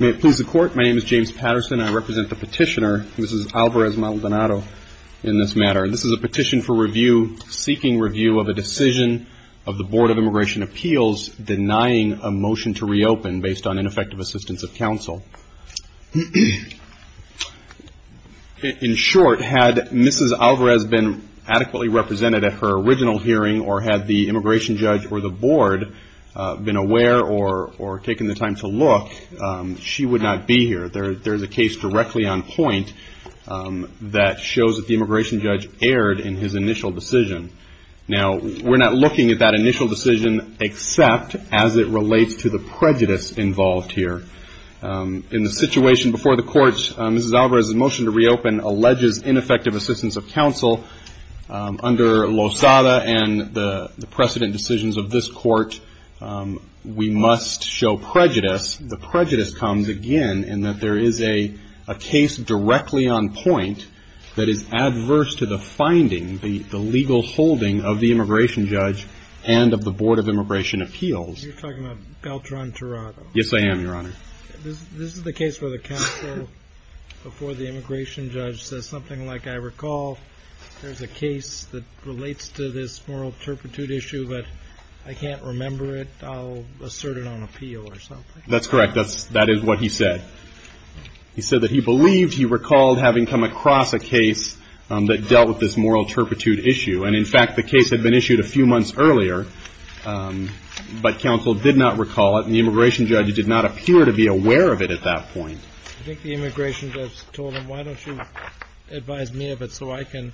May it please the Court, my name is James Patterson. I represent the petitioner, Mrs. Alvarez-Maldonado, in this matter. This is a petition for review, seeking review of a decision of the Board of Immigration Appeals denying a motion to reopen based on ineffective assistance of counsel. In short, had Mrs. Alvarez been adequately represented at her court, been aware, or taken the time to look, she would not be here. There's a case directly on point that shows that the immigration judge erred in his initial decision. Now, we're not looking at that initial decision except as it relates to the prejudice involved here. In the situation before the court, Mrs. Alvarez's motion to reopen alleges ineffective assistance of counsel. Under Lozada and the precedent decisions of this court, we must show prejudice. The prejudice comes, again, in that there is a case directly on point that is adverse to the finding, the legal holding, of the immigration judge and of the Board of Immigration Appeals. As you're talking about Beltran-Torado. Yes, I am, Your Honor. This is the case where the counsel before the immigration judge says something like, I recall there's a case that relates to this moral turpitude issue, but I can't remember it. I'll assert it on appeal or something. That's correct. That is what he said. He said that he believed, he recalled, having come across a case that dealt with this moral turpitude issue. And, in fact, the case had been issued a few months earlier, but counsel did not recall it, and the immigration judge did not appear to be aware of it at that point. I think the immigration judge told him, why don't you advise me of it so I can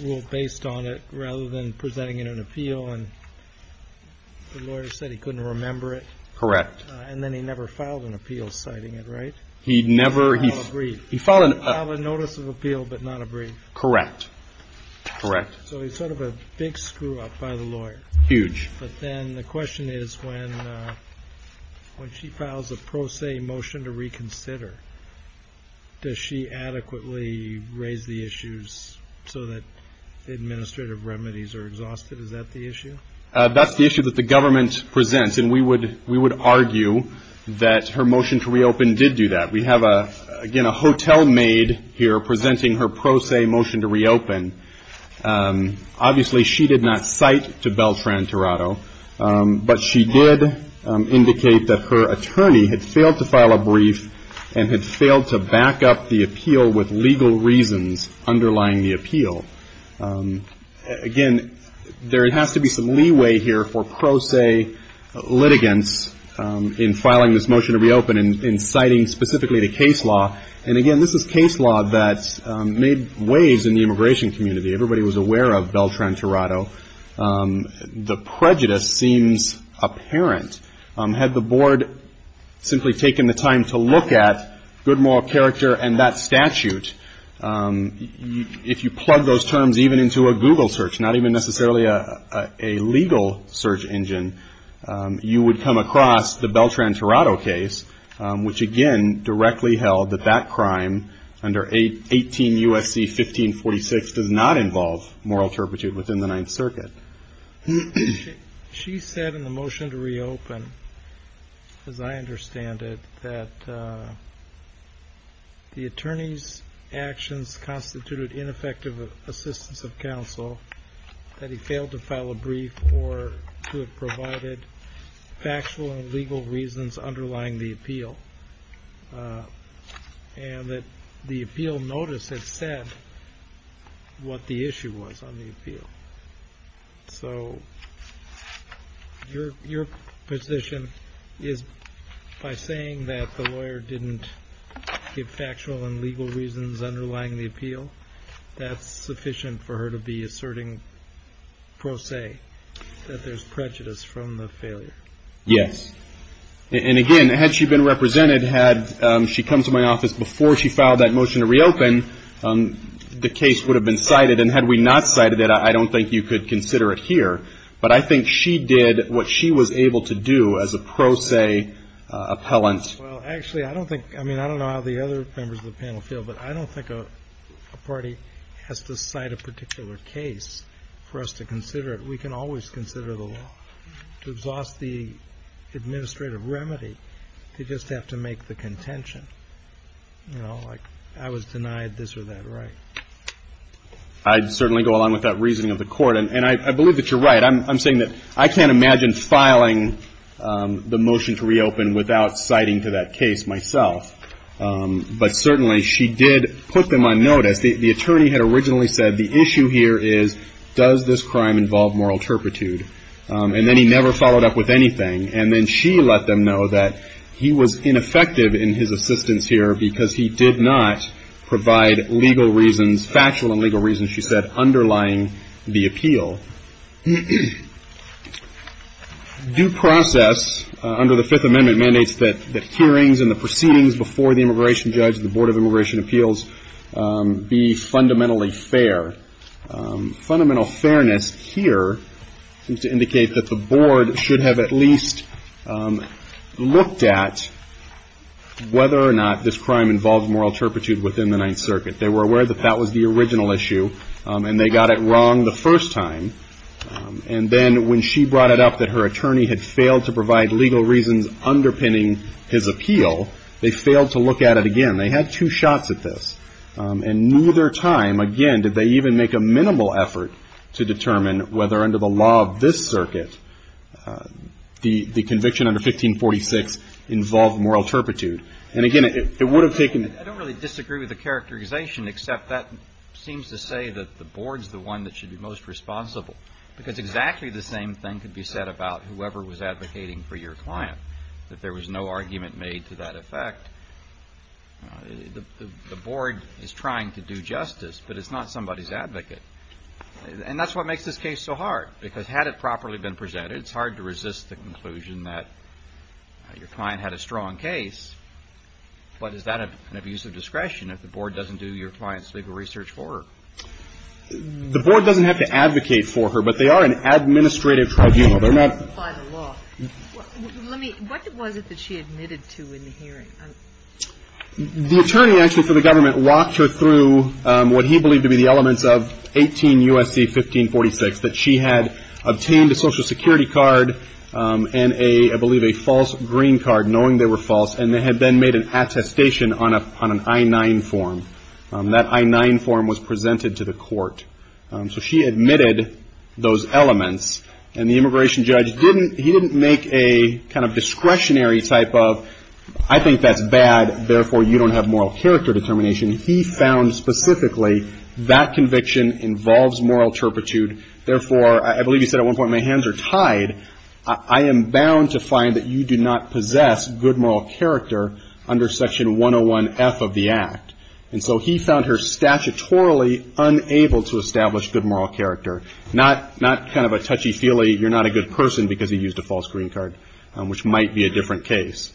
rule based on it, rather than presenting it on appeal. And the lawyer said he couldn't remember it. Correct. And then he never filed an appeal citing it, right? He never. Not a brief. He filed a notice of appeal, but not a brief. Correct. Correct. So he's sort of a big screw-up by the lawyer. Huge. But then the question is, when she files a pro se motion to reconsider, does she adequately raise the issues so that the administrative remedies are exhausted? Is that the issue? That's the issue that the government presents, and we would argue that her motion to reopen Obviously, she did not cite to Beltran-Torado, but she did indicate that her attorney had failed to file a brief and had failed to back up the appeal with legal reasons underlying the appeal. Again, there has to be some leeway here for pro se litigants in filing this motion to reopen and citing specifically the case law. And, again, this is case law that made waves in the immigration community. Everybody was aware of Beltran-Torado. The prejudice seems apparent. Had the board simply taken the time to look at Goodmore character and that statute, if you plug those terms even into a Google search, not even necessarily a legal search engine, you would come across the Beltran-Torado case, which, again, directly held that that crime under 18 U.S.C. 1546 does not involve moral turpitude within the Ninth Circuit. She said in the motion to reopen, as I understand it, that the attorney's actions constituted ineffective assistance of counsel, that he failed to file a brief or to have provided factual and legal reasons underlying the appeal, and that the appeal notice had said what the issue was on the appeal. So your position is by saying that the lawyer didn't give factual and legal reasons underlying the appeal, that's sufficient for her to be asserting pro se that there's prejudice from the failure? Yes. And again, had she been represented, had she come to my office before she filed that motion to reopen, the case would have been cited. And had we not cited it, I don't think you could consider it here. But I think she did what she was able to do as a pro se appellant. Well, actually, I don't think, I mean, I don't know how the other members of the panel feel, but I don't think a party has to cite a particular case for us to consider it. We can always consider the law. To exhaust the administrative remedy, they just have to make the contention. You know, like, I was denied this or that right. I'd certainly go along with that reasoning of the Court. And I believe that you're right. I'm saying that I can't imagine filing the motion to reopen without citing to that case myself. But certainly, she did put them on notice. The attorney had originally said, the issue here is, does this crime involve moral turpitude? And then he never followed up with anything. And then she let them know that he was ineffective in his assistance here because he did not provide legal reasons, factual and legal reasons, she said, underlying the appeal. Due process under the Fifth Amendment mandates that hearings and the proceedings before the immigration judge and the Board of Immigration Appeals be fundamentally fair. Fundamental fairness here seems to indicate that the Board should have at least looked at whether or not this crime involved moral turpitude within the Ninth Circuit. They were aware that that was the original issue, and they got it wrong the first time. And then when she brought it up that her attorney had failed to provide legal reasons underpinning his appeal, they failed to look at it again. They had two shots at this. And neither time, again, did they even make a minimal effort to determine whether under the law of this circuit, the conviction under 1546 involved moral turpitude. And again, it would have taken I don't really disagree with the characterization, except that seems to say that the Board's the one that should be most responsible, because exactly the same thing could be said about whoever was advocating for your client, that there was no argument made to that effect. The Board is trying to do justice, but it's not somebody's advocate. And that's what makes this case so hard, because had it properly been presented, it's hard to resist the conclusion that your client had a strong case. But is that an abuse of discretion if the Board doesn't do your client's legal research for her? The Board doesn't have to advocate for her, but they are an administrative tribunal. They're not... By the law. Let me, what was it that she admitted to in the hearing? The attorney actually for the government walked her through what he believed to be the elements of 18 U.S.C. 1546, that she had obtained a Social Security card, and I believe a false green card, knowing they were false, and had then made an attestation on an I-9 form. That I-9 form was presented to the court. So she admitted those elements, and the immigration judge didn't make a kind of discretionary type of, I think that's bad, therefore you don't have moral character determination. He found specifically that conviction involves moral turpitude, therefore, I believe he said at one point, my hands are tied, I am bound to find that you do not possess good moral character under section 101-F of the Act. And so he found her statutorily unable to establish good moral character. Not kind of a touchy-feely, you're not a good person because he used a false green card, which might be a different case.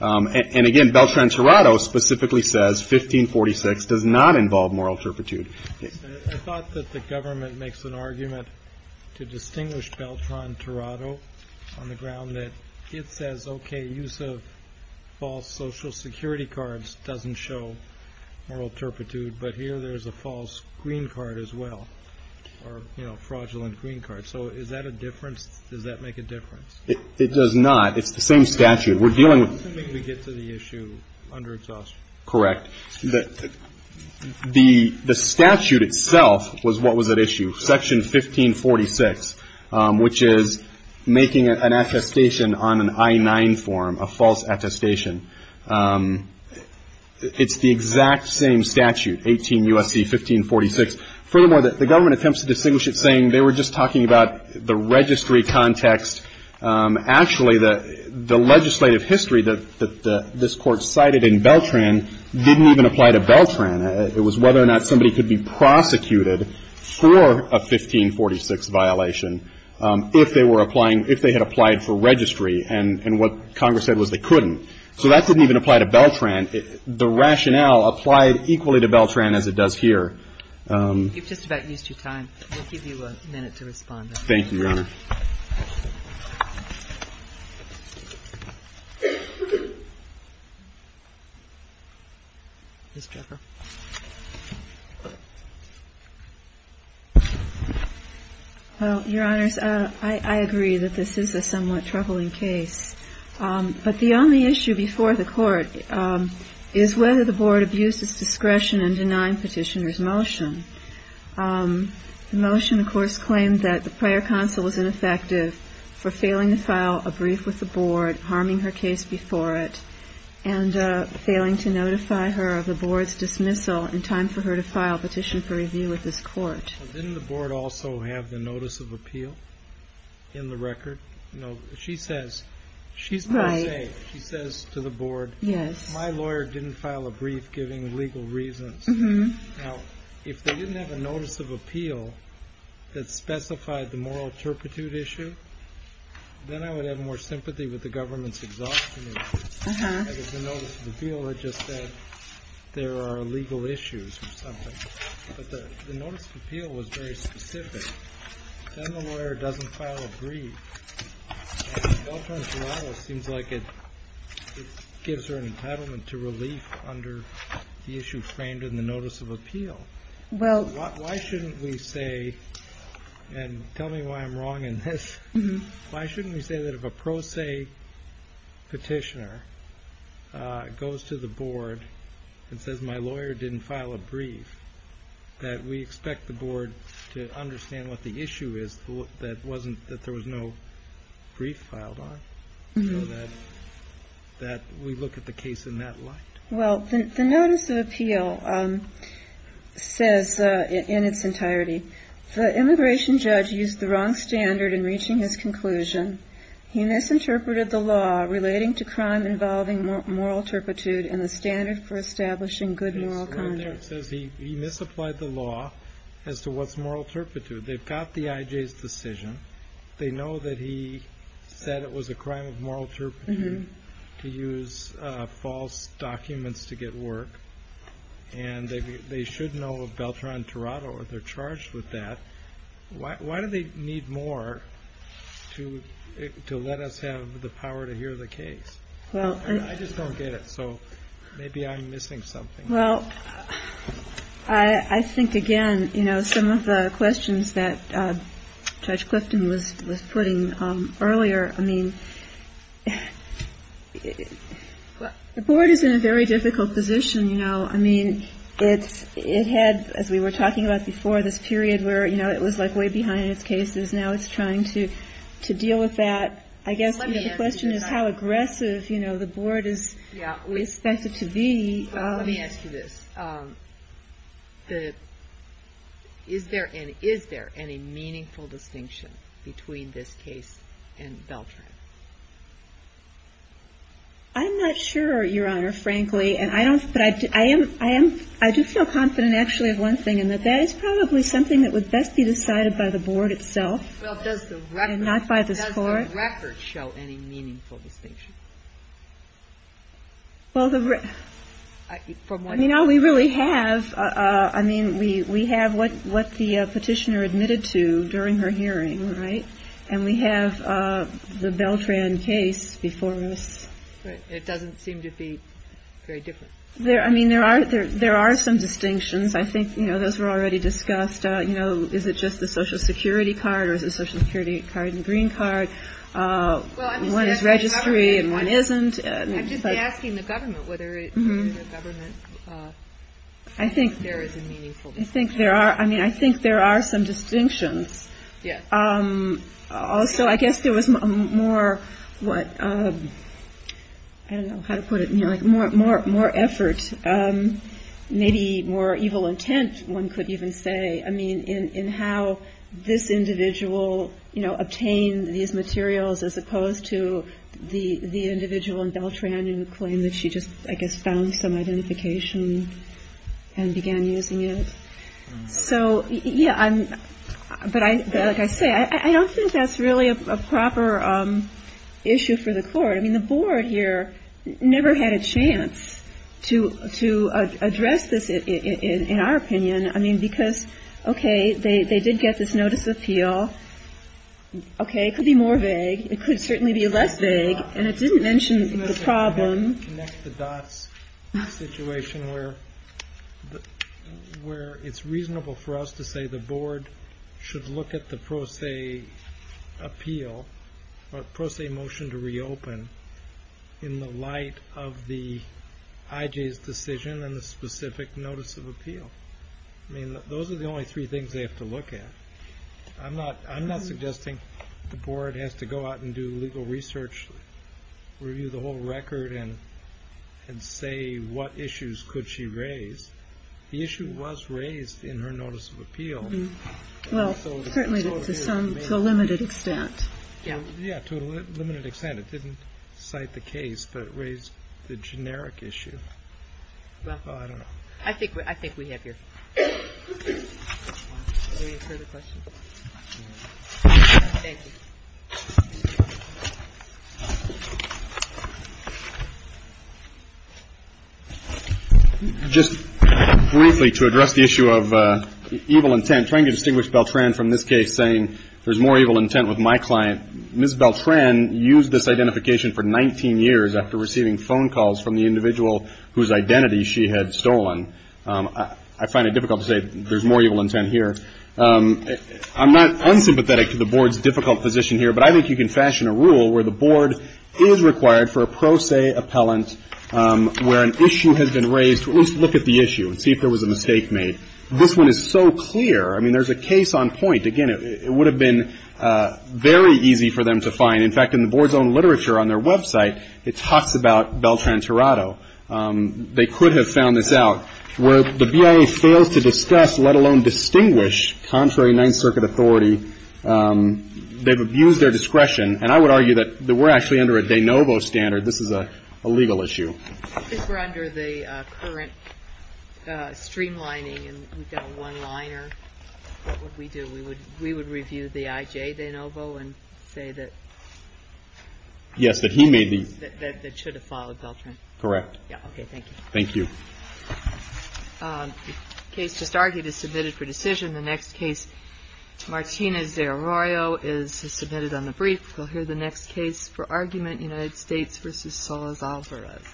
And again, Beltran-Torado specifically says 1546 does not involve moral turpitude. I thought that the government makes an argument to distinguish Beltran-Torado on the ground that it says, okay, use of false Social Security cards doesn't show moral turpitude, but here there's a false green card as well, or, you know, fraudulent green card. So is that a difference? Does that make a difference? It does not. It's the same statute. We're dealing with I don't think we get to the issue under its authority. Correct. The statute itself was what was at issue, section 1546, which is making an attestation on an I-9 form, a false attestation. It's the exact same statute, 18 U.S.C. 1546. Furthermore, the government attempts to distinguish it saying they were just talking about the registry context. Actually, the legislative history that this Court cited in Beltran didn't even apply to Beltran. It was whether or not somebody could be prosecuted for a 1546 violation if they were applying, if they had applied for registry, and what Congress said was they couldn't. So that didn't even apply to Beltran. The rationale applied equally to Beltran as it does here. You've just about used your time. We'll give you a minute to respond. Thank you, Your Honor. Well, Your Honors, I agree that this is a somewhat troubling case. But the only issue before the Court is whether the Board abused its discretion in denying Petitioner's motion. The motion, of course, claimed that the prior counsel was ineffective for failing to file a brief with the Board, harming her case before it, and failing to notify her of the Board's dismissal in time for her to file a petition for review with this Court. Well, didn't the Board also have the notice of appeal in the record? You know, she says to the Board, my lawyer didn't file a brief giving legal reasons. Now, if they didn't have a notice of appeal that specified the moral turpitude issue, then I would have more sympathy with the government's exhaustion issue. That is, the notice of appeal that just said there are legal issues or something. But the notice of appeal was very specific. Then the lawyer doesn't file a brief, and it seems like it gives her an entitlement to relief under the issue framed in the notice of appeal. Why shouldn't we say, and tell me why I'm wrong in this, why shouldn't we say that if a pro se Petitioner goes to the Board, and what the issue is that there was no brief filed on, that we look at the case in that light? Well, the notice of appeal says in its entirety, the immigration judge used the wrong standard in reaching his conclusion. He misinterpreted the law relating to crime involving moral turpitude and the standard for establishing good moral conduct. It says he misapplied the law as to what's moral turpitude. They've got the IJ's decision. They know that he said it was a crime of moral turpitude to use false documents to get work, and they should know of Beltran-Torado, they're charged with that. Why do they need more to let us have the power to hear the case? I just don't get it, so maybe I'm missing something. I think, again, some of the questions that Judge Clifton was putting earlier, I mean, the Board is in a very difficult position. It had, as we were talking about before, this period where it was way behind in its cases. Now it's trying to deal with that. I guess the question is how aggressive the Board is expected to be. Let me ask you this. Is there any meaningful distinction between this case and Beltran? I'm not sure, Your Honor, frankly. I do feel confident, actually, of one thing, and that that is probably something that would best be decided by the Board itself and not by the score. Does the record show any meaningful distinction? Well, you know, we really have, I mean, we have what the Petitioner admitted to during her hearing, right? And we have the Beltran case before us. Right. It doesn't seem to be very different. I mean, there are some distinctions. I think, you know, those were already discussed. You know, is it just the Social Security card or is it the Social Security card and the green card? One is registry and one isn't. I'm just asking the government whether it is the government. I think there is a meaningful distinction. I think there are. I mean, I think there are some distinctions. Yes. Also, I guess there was more, what, I don't know how to put it, more effort, maybe more evil intent, one could even say, I mean, in how this individual, you know, obtained these materials as opposed to the individual in Beltran who claimed that she just, I guess, found some identification and began using it. So, yeah, but like I say, I don't think that's really a proper issue for the Court. I mean, the Board here never had a chance to address this, in our opinion. I mean, because, okay, they did get this notice of appeal. Okay. It could be more vague. It could certainly be less vague. And it didn't mention the problem. Connect the dots in a situation where it's reasonable for us to say the Board should look at the pro se appeal or pro se motion to reopen in the light of the IJ's decision and the specific notice of appeal. I mean, those are the only three things they have to look at. I'm not suggesting the Board has to go out and do legal research, review the whole record and say what issues could she raise. The issue was raised in her notice of appeal. Well, certainly to some, to a limited extent. Yeah. Yeah, to a limited extent. It didn't cite the case, but it raised the generic issue. Well, I think we have your... I'm trying to distinguish Beltran from this case saying there's more evil intent with my client. Ms. Beltran used this identification for 19 years after receiving phone calls from the individual whose identity she had stolen. I find it difficult to say there's more evil intent here. I'm not unsympathetic to the Board's difficult position here, but I think you can fashion a rule where the Board is required for a pro se appellant where an issue has been raised to at least look at the issue and see if there was a mistake made. This one is so clear. I mean, there's a case on point. Again, it would have been very easy for them to find. In fact, in the Board's own literature on their website, it talks about Beltran Tirado. They could have found this out. Where the BIA fails to discuss, let alone distinguish, contrary Ninth Circuit authority, they've abused their discretion. And I would argue that we're actually under a de novo standard. This is a legal issue. If we're under the current streamlining and we've got a one-liner, what would we do? We would review the IJ de novo and say that... Yes, that he made the... ...that should have followed Beltran. Correct. Yeah, okay, thank you. Thank you. The case just argued is submitted for decision. The next case, Martínez de Arroyo, is submitted on the brief. You'll hear the next case for argument, United States v. Solís Álvarez. Thank you.